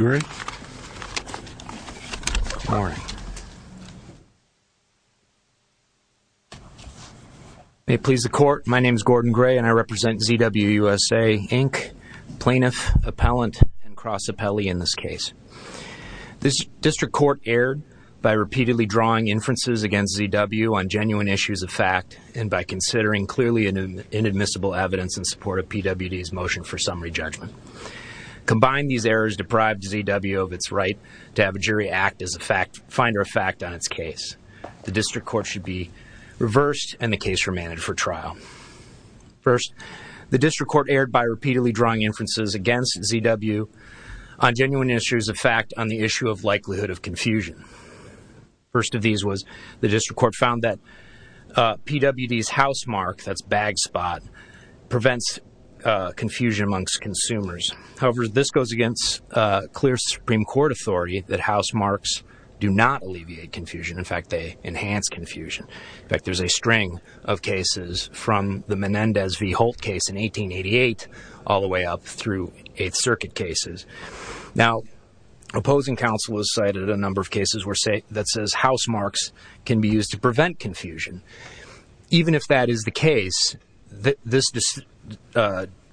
May it please the Court, my name is Gordon Gray and I represent ZW USA, Inc., Plaintiff, Appellant, and Cross-Appellee in this case. This District Court erred by repeatedly drawing inferences against ZW on genuine issues of fact and by considering clearly inadmissible evidence in support of PWD's motion for summary judgment. Combine these errors to deprive ZW of its right to have a jury act as a finder of fact on its case. The District Court should be reversed and the case remanded for trial. First, the District Court erred by repeatedly drawing inferences against ZW on genuine issues of fact on the issue of likelihood of confusion. First of these was the District Court found that PWD's housemark, that's bag spot, prevents confusion amongst consumers. However, this goes against clear Supreme Court authority that housemarks do not alleviate confusion. In fact, they enhance confusion. In fact, there's a string of cases from the Menendez v. Holt case in 1888 all the way up through Eighth Circuit cases. Now, opposing counsel has cited a number of cases that says housemarks can be used to prevent confusion. Even if that is the case, this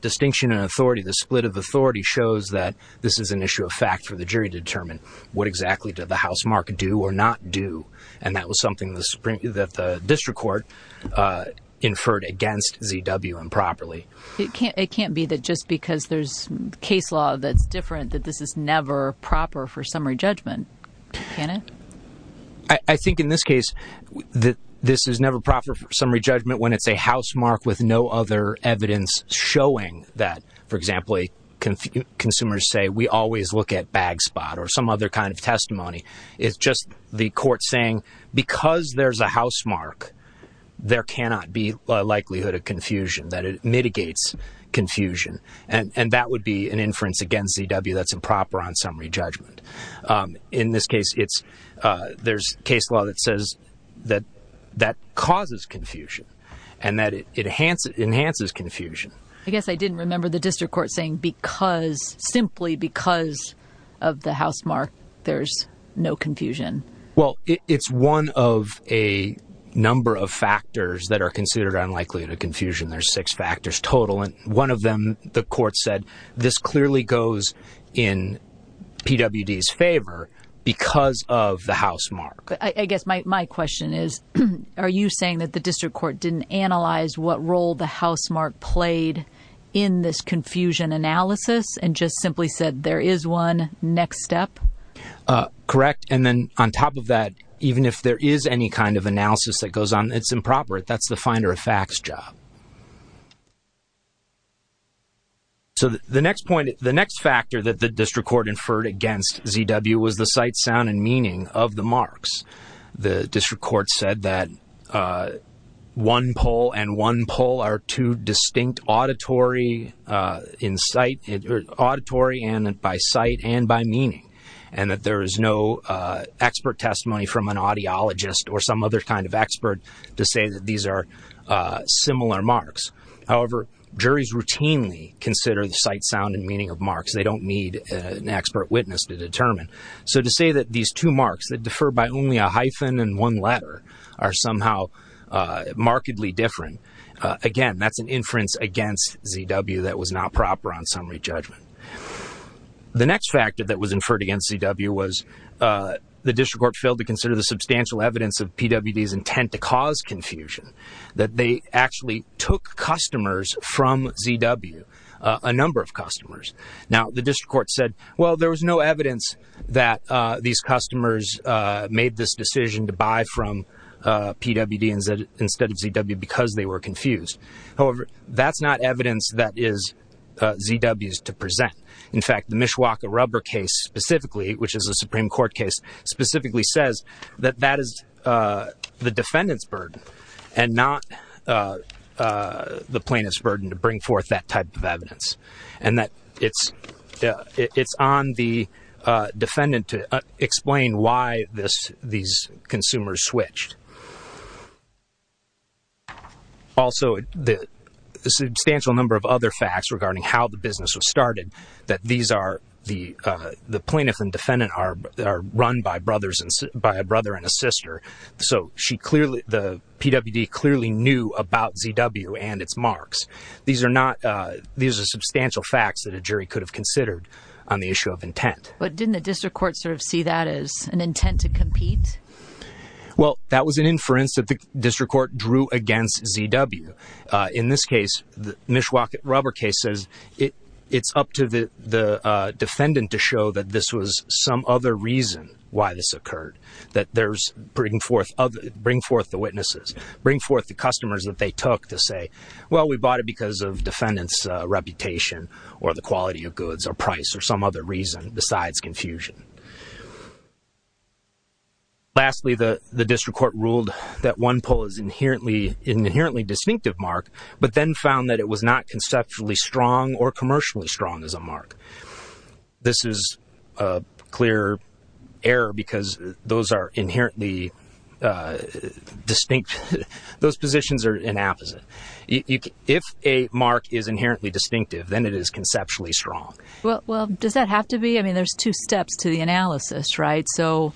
distinction in authority, this split of authority shows that this is an issue of fact for the jury to determine. What exactly did the housemark do or not do? And that was something that the District Court inferred against ZW improperly. It can't be that just because there's case law that's different that this is never proper for summary judgment, can it? I think in this case, this is never proper for summary judgment when it's a housemark with no other evidence showing that, for example, consumers say, we always look at bag spot or some other kind of testimony. It's just the court saying, because there's a housemark, there cannot be a likelihood of confusion, that it mitigates confusion. And that would be an inference against ZW that's improper on summary judgment. In this case, there's case law that says that that causes confusion and that it enhances confusion. I guess I didn't remember the District Court saying because, simply because of the housemark, there's no confusion. Well, it's one of a number of factors that are considered unlikely to confusion. There's six factors total. One of them, the court said, this clearly goes in PWD's favor because of the housemark. I guess my question is, are you saying that the District Court didn't analyze what role the housemark played in this confusion analysis and just simply said there is one next step? Correct. And then on top of that, even if there is any kind of analysis that goes on, it's improper. That's the finder of facts job. So the next point, the next factor that the District Court inferred against ZW was the sight, sound, and meaning of the marks. The District Court said that one poll and one poll are two distinct auditory in sight, auditory by sight and by meaning, and that there is no expert testimony from an audiologist or some other kind of expert to say that these are similar marks. However, juries routinely consider the sight, sound, and meaning of marks. They don't need an expert witness to determine. So to say that these two marks that differ by only a hyphen and one letter are somehow markedly different, again, that's an inference against ZW that was not proper on summary judgment. The next factor that was inferred against ZW was the District Court failed to consider the substantial evidence of PWD's intent to cause confusion, that they actually took customers from ZW, a number of customers. Now, the District Court said, well, there was no evidence that these customers made this decision to buy from PWD instead of ZW because they were confused. However, that's not evidence that is ZW's to present. In fact, the Mishwaka rubber case specifically, which is a Supreme Court case, specifically says that that is the defendant's burden and not the plaintiff's burden to bring forth that type of evidence and that it's on the defendant to explain why these consumers switched. Also, the substantial number of other facts regarding how the business was started, that these are the plaintiff and defendant are run by brothers and by a brother and a sister. So she clearly the PWD clearly knew about ZW and its marks. These are not these are substantial facts that a jury could have considered on the issue of intent. But didn't the District Court sort of see that as an intent to compete? Well, that was an inference that the District Court drew against ZW. In this case, the Mishwaka rubber case says it's up to the defendant to show that this was some other reason why this occurred, that there's bringing forth of bring forth the witnesses, bring forth the customers that they took to say, well, we bought it because of defendants reputation or the quality of goods or price or some other reason besides confusion. Lastly, the District Court ruled that one poll is inherently an inherently distinctive mark, but then found that it was not conceptually strong or commercially strong as a mark. This is a clear error because those are inherently distinct. Those positions are inapposite. If a mark is inherently distinctive, then it is conceptually strong. Well, does that have to be? I mean, there's two steps to the analysis, right? So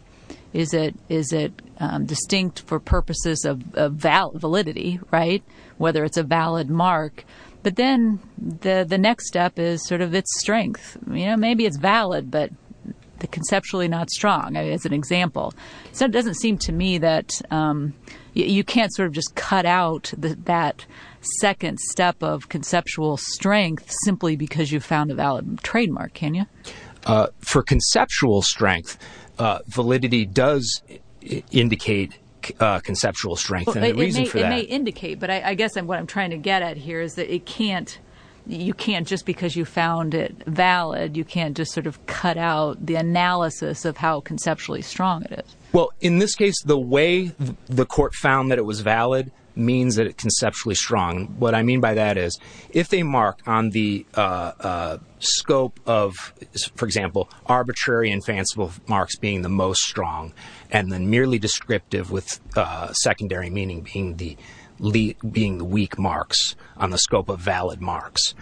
is it is it distinct for purposes of validity, right? Whether it's a valid mark. But then the next step is sort of its strength. You know, maybe it's valid, but the conceptually not strong as an example. So it doesn't seem to me that you can't sort of just cut out that second step of conceptual strength simply because you found a valid trademark, can you? For conceptual strength, validity does indicate conceptual strength. It may indicate, but I guess what I'm trying to get at here is that it can't. You can't just because you found it valid. You can't just sort of cut out the analysis of how conceptually strong it is. Well, in this case, the way the court found that it was valid means that it conceptually strong. What I mean by that is if they mark on the scope of, for example, arbitrary and fanciful marks being the most strong and then merely descriptive with secondary meaning being the weak marks on the scope of valid marks.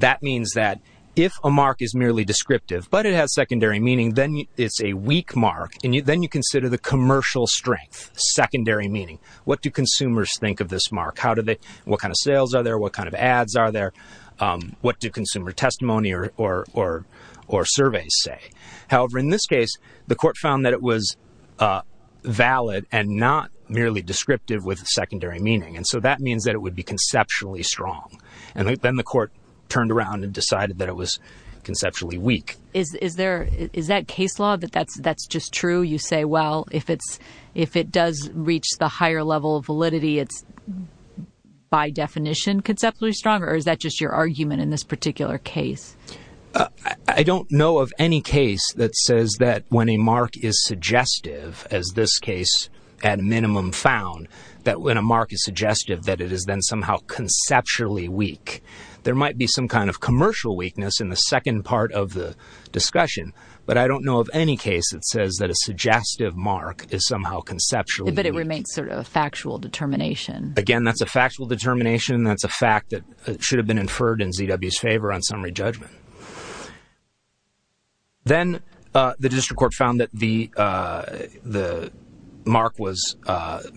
That means that if a mark is merely descriptive, but it has secondary meaning, then it's a weak mark. And then you consider the commercial strength, secondary meaning. What do consumers think of this mark? What kind of sales are there? What kind of ads are there? What do consumer testimony or surveys say? However, in this case, the court found that it was valid and not merely descriptive with secondary meaning. And so that means that it would be conceptually strong. And then the court turned around and decided that it was conceptually weak. Is that case law that that's just true? You say, well, if it's if it does reach the higher level of validity, it's by definition conceptually stronger. Or is that just your argument in this particular case? I don't know of any case that says that when a mark is suggestive, as this case at minimum found, that when a mark is suggestive, that it is then somehow conceptually weak. There might be some kind of commercial weakness in the second part of the discussion. But I don't know of any case that says that a suggestive mark is somehow conceptual. But it remains sort of a factual determination. Again, that's a factual determination. That's a fact that should have been inferred in ZW's favor on summary judgment. Then the district court found that the the mark was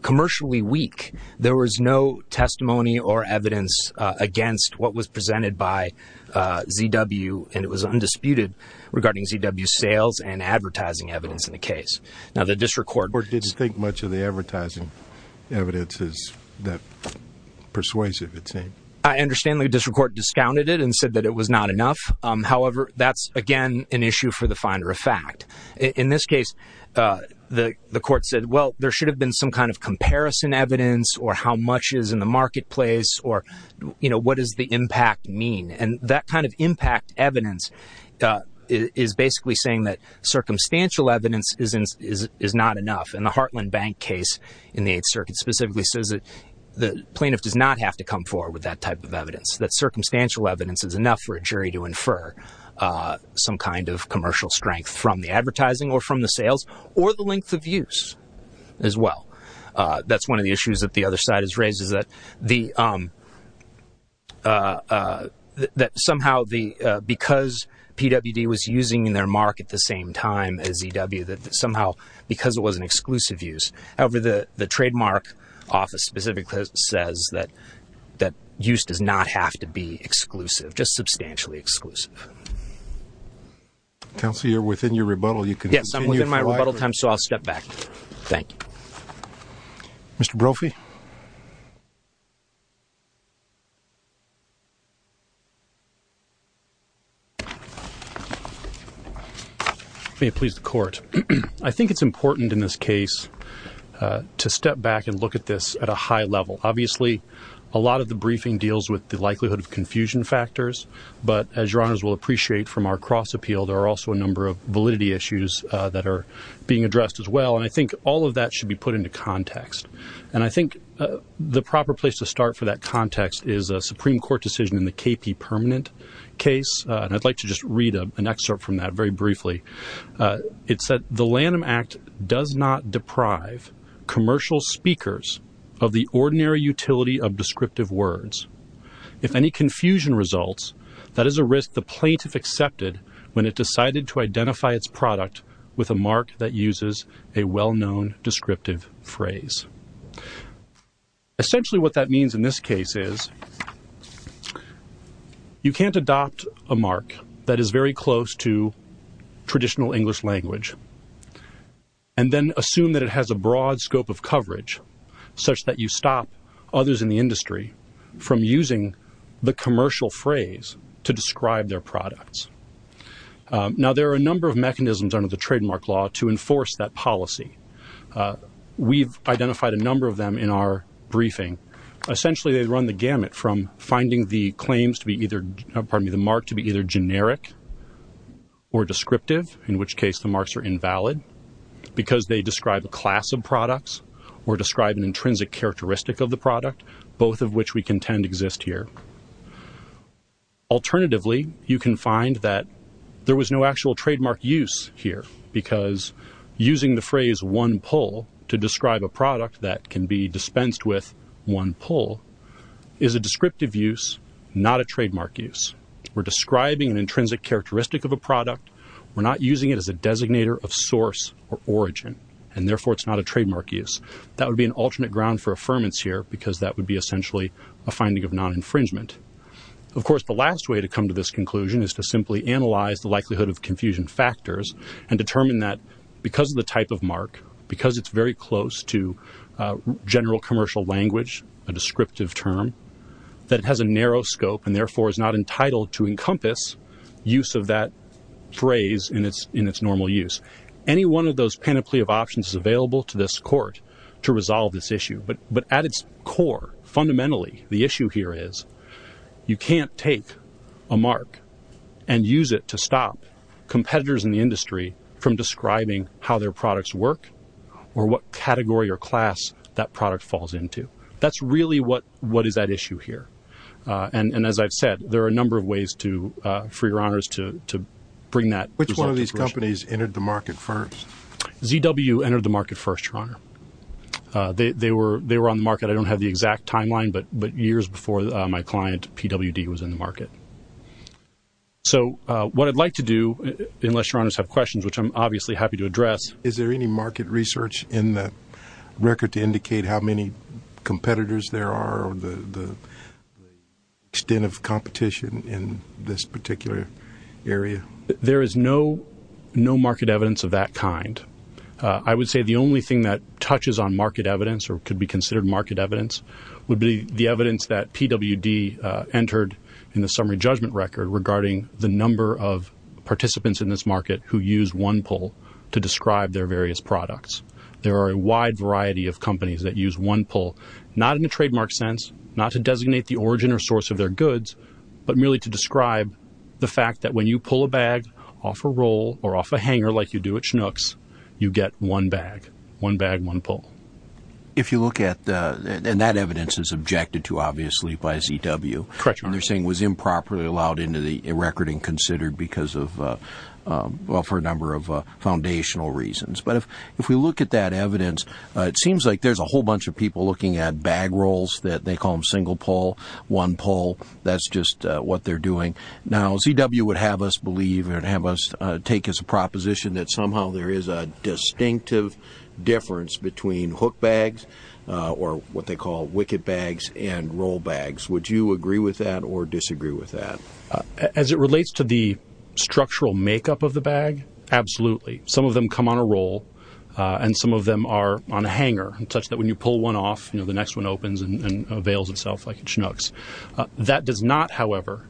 commercially weak. There was no testimony or evidence against what was presented by ZW. And it was undisputed regarding ZW sales and advertising evidence in the case. Now, the district court didn't think much of the advertising evidence is that persuasive. It seemed I understand the district court discounted it and said that it was not enough. However, that's, again, an issue for the finder of fact. In this case, the court said, well, there should have been some kind of comparison evidence or how much is in the marketplace or, you know, what does the impact mean? And that kind of impact evidence is basically saying that circumstantial evidence is not enough. And the Heartland Bank case in the Eighth Circuit specifically says that the plaintiff does not have to come forward with that type of evidence, that circumstantial evidence is enough for a jury to infer some kind of commercial strength from the advertising or from the sales or the length of use as well. That's one of the issues that the other side has raised is that somehow because PWD was using their mark at the same time as ZW, that somehow because it was an exclusive use. However, the trademark office specifically says that use does not have to be exclusive, just substantially exclusive. Counselor, you're within your rebuttal. Yes, I'm within my rebuttal time, so I'll step back. Thank you. Mr. Brophy? May it please the court. I think it's important in this case to step back and look at this at a high level. Obviously, a lot of the briefing deals with the likelihood of confusion factors, but as Your Honors will appreciate from our cross-appeal, there are also a number of validity issues that are being addressed as well, and I think all of that should be put into context. And I think the proper place to start for that context is a Supreme Court decision in the KP Permanent case, and I'd like to just read an excerpt from that very briefly. It said, The Lanham Act does not deprive commercial speakers of the ordinary utility of descriptive words. If any confusion results, that is a risk the plaintiff accepted when it decided to identify its product with a mark that uses a well-known descriptive phrase. Essentially what that means in this case is you can't adopt a mark that is very close to traditional English language and then assume that it has a broad scope of coverage such that you stop others in the industry from using the commercial phrase to describe their products. Now, there are a number of mechanisms under the trademark law to enforce that policy. We've identified a number of them in our briefing. Essentially, they run the gamut from finding the mark to be either generic or descriptive, in which case the marks are invalid because they describe a class of products or describe an intrinsic characteristic of the product, both of which we contend exist here. Alternatively, you can find that there was no actual trademark use here because using the phrase one pull to describe a product that can be dispensed with one pull is a descriptive use, not a trademark use. We're describing an intrinsic characteristic of a product. We're not using it as a designator of source or origin, and therefore it's not a trademark use. That would be an alternate ground for affirmance here because that would be essentially a finding of non-infringement. Of course, the last way to come to this conclusion is to simply analyze the likelihood of confusion factors and determine that because of the type of mark, because it's very close to general commercial language, a descriptive term, that it has a narrow scope and therefore is not entitled to encompass use of that phrase in its normal use. Any one of those panoply of options is available to this court to resolve this issue, but at its core, fundamentally, the issue here is you can't take a mark and use it to stop competitors in the industry from describing how their products work or what category or class that product falls into. That's really what is at issue here, and as I've said, there are a number of ways for your honors to bring that result to fruition. Which one of these companies entered the market first? ZW entered the market first, your honor. They were on the market. I don't have the exact timeline, but years before my client, PWD, was in the market. So what I'd like to do, unless your honors have questions, which I'm obviously happy to address. Is there any market research in the record to indicate how many competitors there are or the extent of competition in this particular area? There is no market evidence of that kind. I would say the only thing that touches on market evidence or could be considered market evidence would be the evidence that PWD entered in the summary judgment record regarding the number of participants in this market who used one pull to describe their various products. There are a wide variety of companies that use one pull, not in a trademark sense, not to designate the origin or source of their goods, but merely to describe the fact that when you pull a bag off a roll or off a hanger, like you do at Chinooks, you get one bag, one bag, one pull. If you look at the, and that evidence is objected to, obviously, by ZW. Correct, your honor. They're saying it was improperly allowed into the record and considered because of, well, for a number of foundational reasons. But if we look at that evidence, it seems like there's a whole bunch of people looking at bag rolls, that they call them single pull, one pull, that's just what they're doing. Now, ZW would have us believe or have us take as a proposition that somehow there is a distinctive difference between hook bags or what they call wicked bags and roll bags. Would you agree with that or disagree with that? As it relates to the structural makeup of the bag, absolutely. Some of them come on a roll and some of them are on a hanger, such that when you pull one off, the next one opens and avails itself like at Chinooks. That does not, however,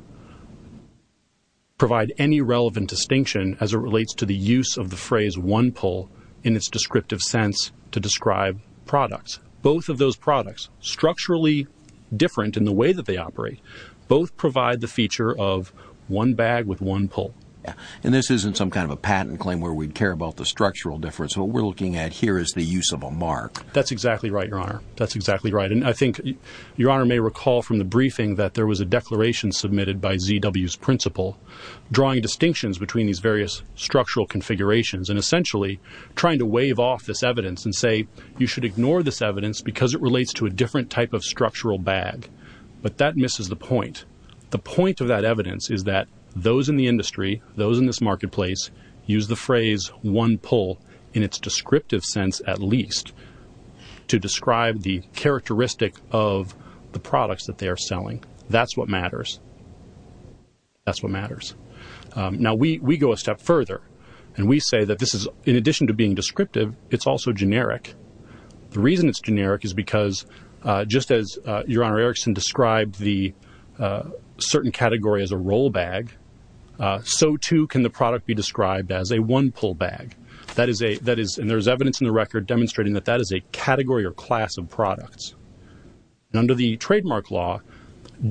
provide any relevant distinction as it relates to the use of the phrase one pull in its descriptive sense to describe products. Both of those products, structurally different in the way that they operate, both provide the feature of one bag with one pull. And this isn't some kind of a patent claim where we'd care about the structural difference. What we're looking at here is the use of a mark. That's exactly right, Your Honor. That's exactly right. And I think Your Honor may recall from the briefing that there was a declaration submitted by ZW's principal drawing distinctions between these various structural configurations and essentially trying to wave off this evidence and say you should ignore this evidence because it relates to a different type of structural bag. But that misses the point. The point of that evidence is that those in the industry, those in this marketplace, use the phrase one pull in its descriptive sense at least to describe the characteristic of the products that they are selling. That's what matters. That's what matters. Now, we go a step further, and we say that this is, in addition to being descriptive, it's also generic. The reason it's generic is because just as Your Honor Erickson described the certain category as a roll bag, so too can the product be described as a one-pull bag. And there's evidence in the record demonstrating that that is a category or class of products. Under the trademark law,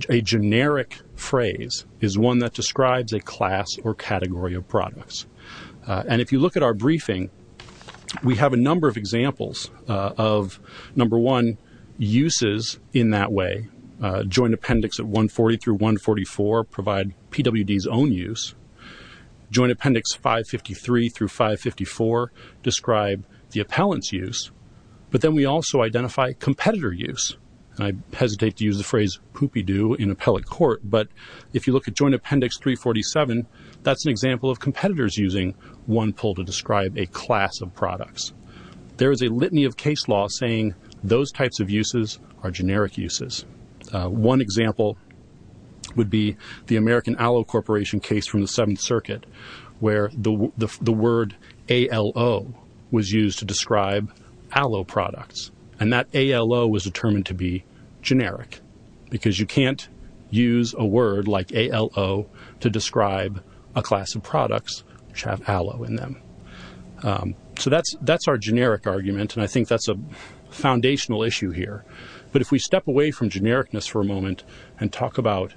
a generic phrase is one that describes a class or category of products. And if you look at our briefing, we have a number of examples of, number one, uses in that way. Joint Appendix 140 through 144 provide PWD's own use. Joint Appendix 553 through 554 describe the appellant's use. But then we also identify competitor use. I hesitate to use the phrase poopy-doo in appellate court, but if you look at Joint Appendix 347, that's an example of competitors using one pull to describe a class of products. There is a litany of case law saying those types of uses are generic uses. One example would be the American Aloe Corporation case from the Seventh Circuit, where the word A-L-O was used to describe aloe products, and that A-L-O was determined to be generic because you can't use a word like A-L-O to describe a class of products which have aloe in them. So that's our generic argument, and I think that's a foundational issue here. But if we step away from genericness for a moment and talk about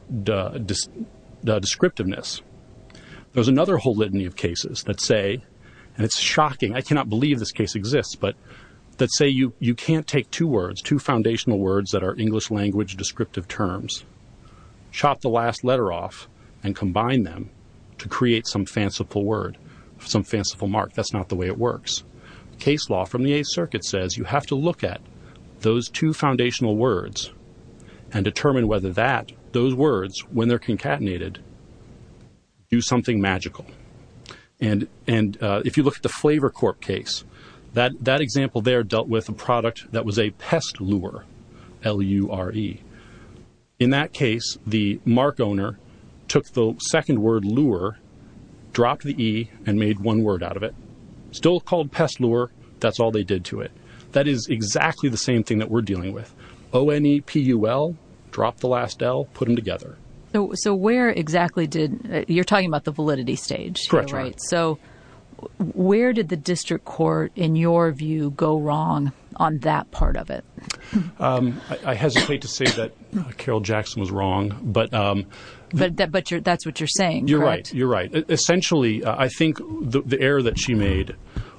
descriptiveness, there's another whole litany of cases that say, and it's shocking, I cannot believe this case exists, but that say you can't take two words, two foundational words that are English language descriptive terms, chop the last letter off, and combine them to create some fanciful word, some fanciful mark. That's not the way it works. Case law from the Eighth Circuit says you have to look at those two foundational words and determine whether those words, when they're concatenated, do something magical. And if you look at the Flavor Corp case, that example there dealt with a product that was a pest lure, L-U-R-E. In that case, the mark owner took the second word lure, dropped the E, and made one word out of it. Still called pest lure, that's all they did to it. That is exactly the same thing that we're dealing with. O-N-E-P-U-L, drop the last L, put them together. So where exactly did, you're talking about the validity stage, right? Correct. So where did the district court, in your view, go wrong on that part of it? I hesitate to say that Carol Jackson was wrong. But that's what you're saying, correct? You're right. Essentially, I think the error that she made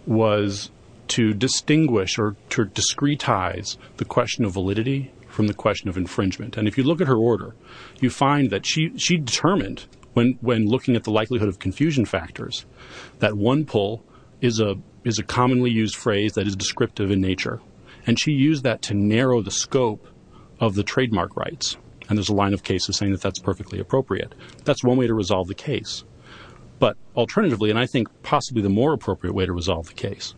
was to distinguish or to discretize the question of validity from the question of infringement. And if you look at her order, you find that she determined, when looking at the likelihood of confusion factors, that one pull is a commonly used phrase that is descriptive in nature. And she used that to narrow the scope of the trademark rights. And there's a line of cases saying that that's perfectly appropriate. That's one way to resolve the case. But alternatively, and I think possibly the more appropriate way to resolve the case,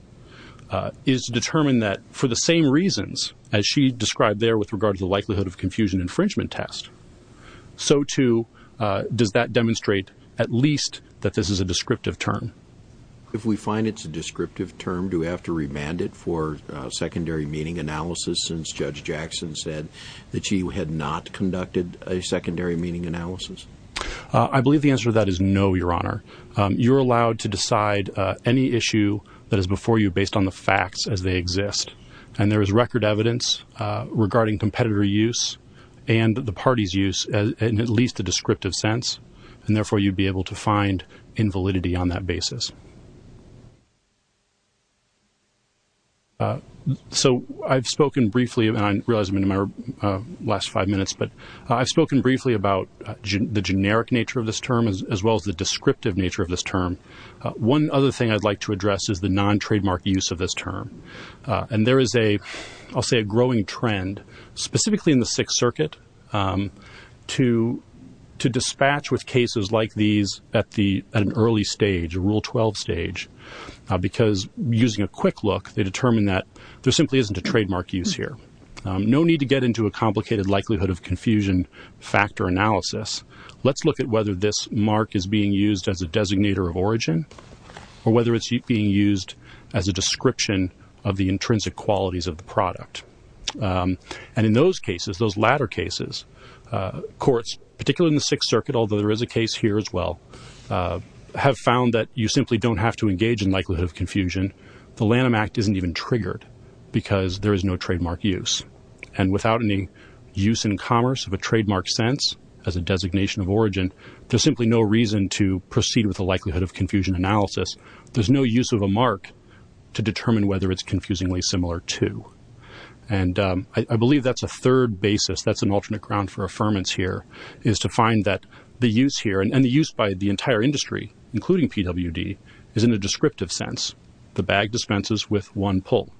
is to determine that for the same reasons as she described there with regard to the likelihood of confusion infringement test, so too does that demonstrate at least that this is a descriptive term. If we find it's a descriptive term, do we have to remand it for secondary meaning analysis, since Judge Jackson said that she had not conducted a secondary meaning analysis? I believe the answer to that is no, Your Honor. You're allowed to decide any issue that is before you based on the facts as they exist. And there is record evidence regarding competitor use and the party's use in at least a descriptive sense. And, therefore, you'd be able to find invalidity on that basis. So I've spoken briefly, and I realize I'm in my last five minutes, but I've spoken briefly about the generic nature of this term as well as the descriptive nature of this term. One other thing I'd like to address is the non-trademark use of this term. And there is, I'll say, a growing trend, specifically in the Sixth Circuit, to dispatch with cases like these at an early stage, Rule 12 stage, because using a quick look, they determine that there simply isn't a trademark use here. No need to get into a complicated likelihood of confusion factor analysis. Let's look at whether this mark is being used as a designator of origin or whether it's being used as a description of the intrinsic qualities of the product. And in those cases, those latter cases, courts, particularly in the Sixth Circuit, although there is a case here as well, have found that you simply don't have to engage in likelihood of confusion. The Lanham Act isn't even triggered because there is no trademark use. And without any use in commerce of a trademark sense as a designation of origin, there's simply no reason to proceed with the likelihood of confusion analysis. There's no use of a mark to determine whether it's confusingly similar to. And I believe that's a third basis, that's an alternate ground for affirmance here, is to find that the use here, and the use by the entire industry, including PWD, is in a descriptive sense, the bag dispenses with one pull.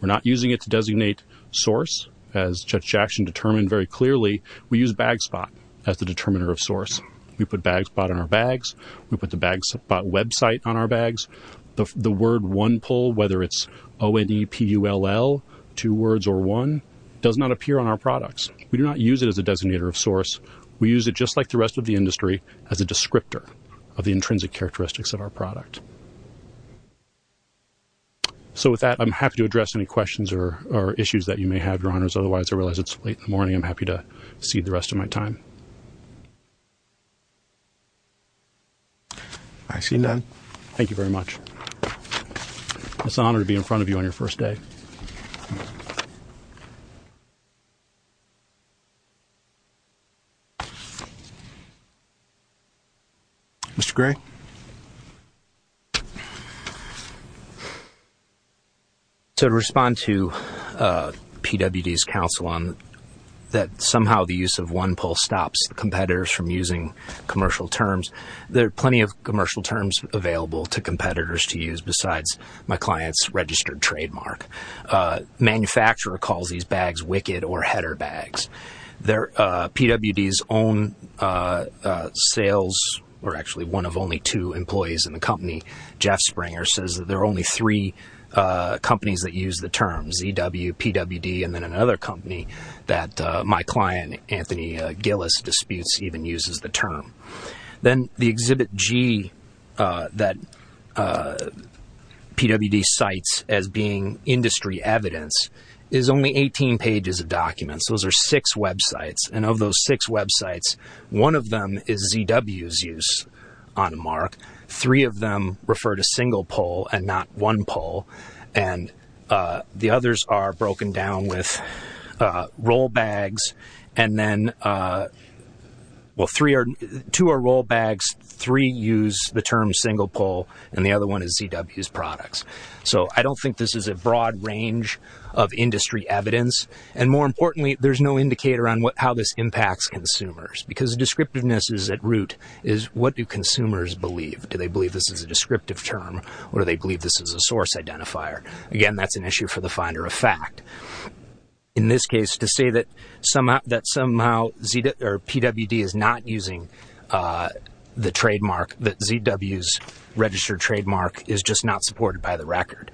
We're not using it to designate source, as Judge Jackson determined very clearly, we use bag spot as the determiner of source. We put bag spot on our bags. We put the bag spot website on our bags. The word one pull, whether it's O-N-E-P-U-L-L, two words or one, does not appear on our products. We do not use it as a designator of source. We use it just like the rest of the industry as a descriptor of the intrinsic characteristics of our product. So with that, I'm happy to address any questions or issues that you may have, Your Honors. Otherwise, I realize it's late in the morning. I'm happy to cede the rest of my time. I see none. Thank you very much. It's an honor to be in front of you on your first day. Mr. Gray? To respond to PWD's counsel on that somehow the use of one pull stops competitors from using commercial terms, there are plenty of commercial terms available to competitors to use besides my client's registered trademark. Manufacturer calls these bags wicked or header bags. PWD's own sales or actually one of only two employees in the company, Jeff Springer, says that there are only three companies that use the terms, EW, PWD, and then another company that my client, Anthony Gillis, disputes even uses the term. Then the Exhibit G that PWD cites as being industry evidence is only 18 pages of documents. Those are six websites. And of those six websites, one of them is ZW's use on a mark. Three of them refer to single pull and not one pull. And the others are broken down with roll bags. And then, well, two are roll bags, three use the term single pull, and the other one is ZW's products. So I don't think this is a broad range of industry evidence. And more importantly, there's no indicator on how this impacts consumers because descriptiveness is at root is what do consumers believe. Do they believe this is a descriptive term or do they believe this is a source identifier? Again, that's an issue for the finder of fact. In this case, to say that somehow PWD is not using the trademark, that ZW's registered trademark is just not supported by the record.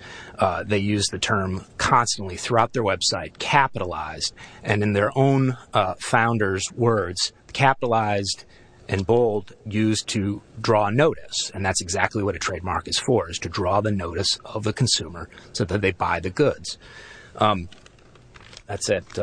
They use the term constantly throughout their website, capitalized. And in their own founders' words, capitalized and bold used to draw notice. And that's exactly what a trademark is for, is to draw the notice of the consumer so that they buy the goods. That's it.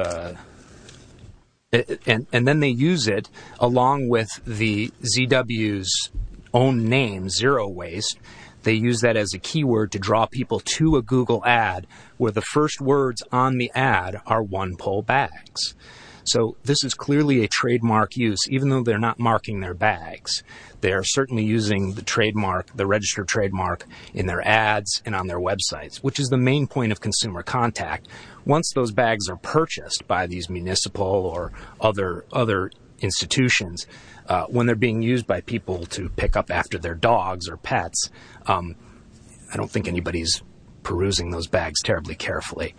And then they use it along with the ZW's own name, Zero Waste. They use that as a keyword to draw people to a Google ad where the first words on the ad are one pull bags. So this is clearly a trademark use, even though they're not marking their bags. They are certainly using the trademark, the registered trademark in their ads and on their websites, which is the main point of consumer contact. Once those bags are purchased by these municipal or other institutions, when they're being used by people to pick up after their dogs or pets, I don't think anybody's perusing those bags terribly carefully.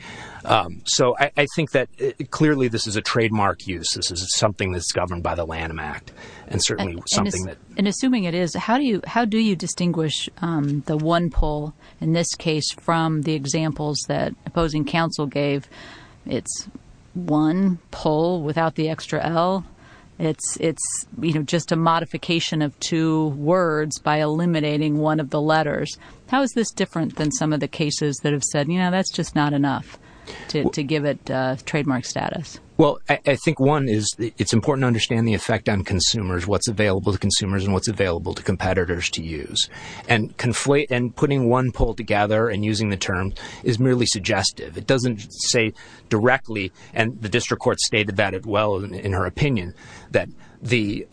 So I think that clearly this is a trademark use. This is something that's governed by the Lanham Act and certainly something that. And assuming it is, how do you distinguish the one pull in this case from the examples that opposing counsel gave? It's one pull without the extra L. It's just a modification of two words by eliminating one of the letters. How is this different than some of the cases that have said, you know, that's just not enough to give it trademark status? Well, I think one is it's important to understand the effect on consumers, what's available to consumers and what's available to competitors to use. And putting one pull together and using the term is merely suggestive. It doesn't say directly, and the district court stated that as well in her opinion, that the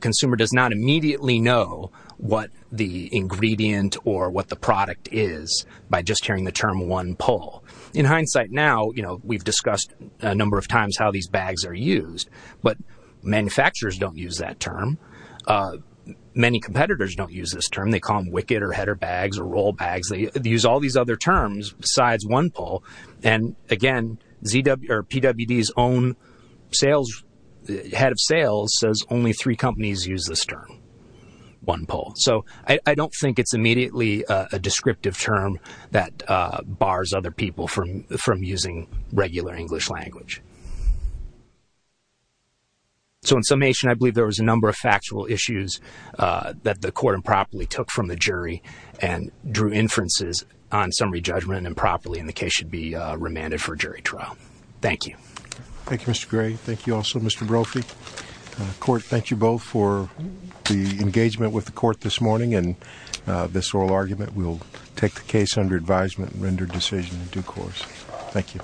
consumer does not immediately know what the ingredient or what the product is by just hearing the term one pull. In hindsight now, you know, we've discussed a number of times how these bags are used, but manufacturers don't use that term. Many competitors don't use this term. They call them wicket or header bags or roll bags. They use all these other terms besides one pull. And again, PWD's own head of sales says only three companies use this term, one pull. So I don't think it's immediately a descriptive term that bars other people from using regular English language. So in summation, I believe there was a number of factual issues that the court improperly took from the jury and drew inferences on summary judgment improperly, and the case should be remanded for jury trial. Thank you. Thank you, Mr. Gray. Thank you also, Mr. Brophy. Court, thank you both for the engagement with the court this morning and this oral argument. We'll take the case under advisement and render decision in due course. Thank you.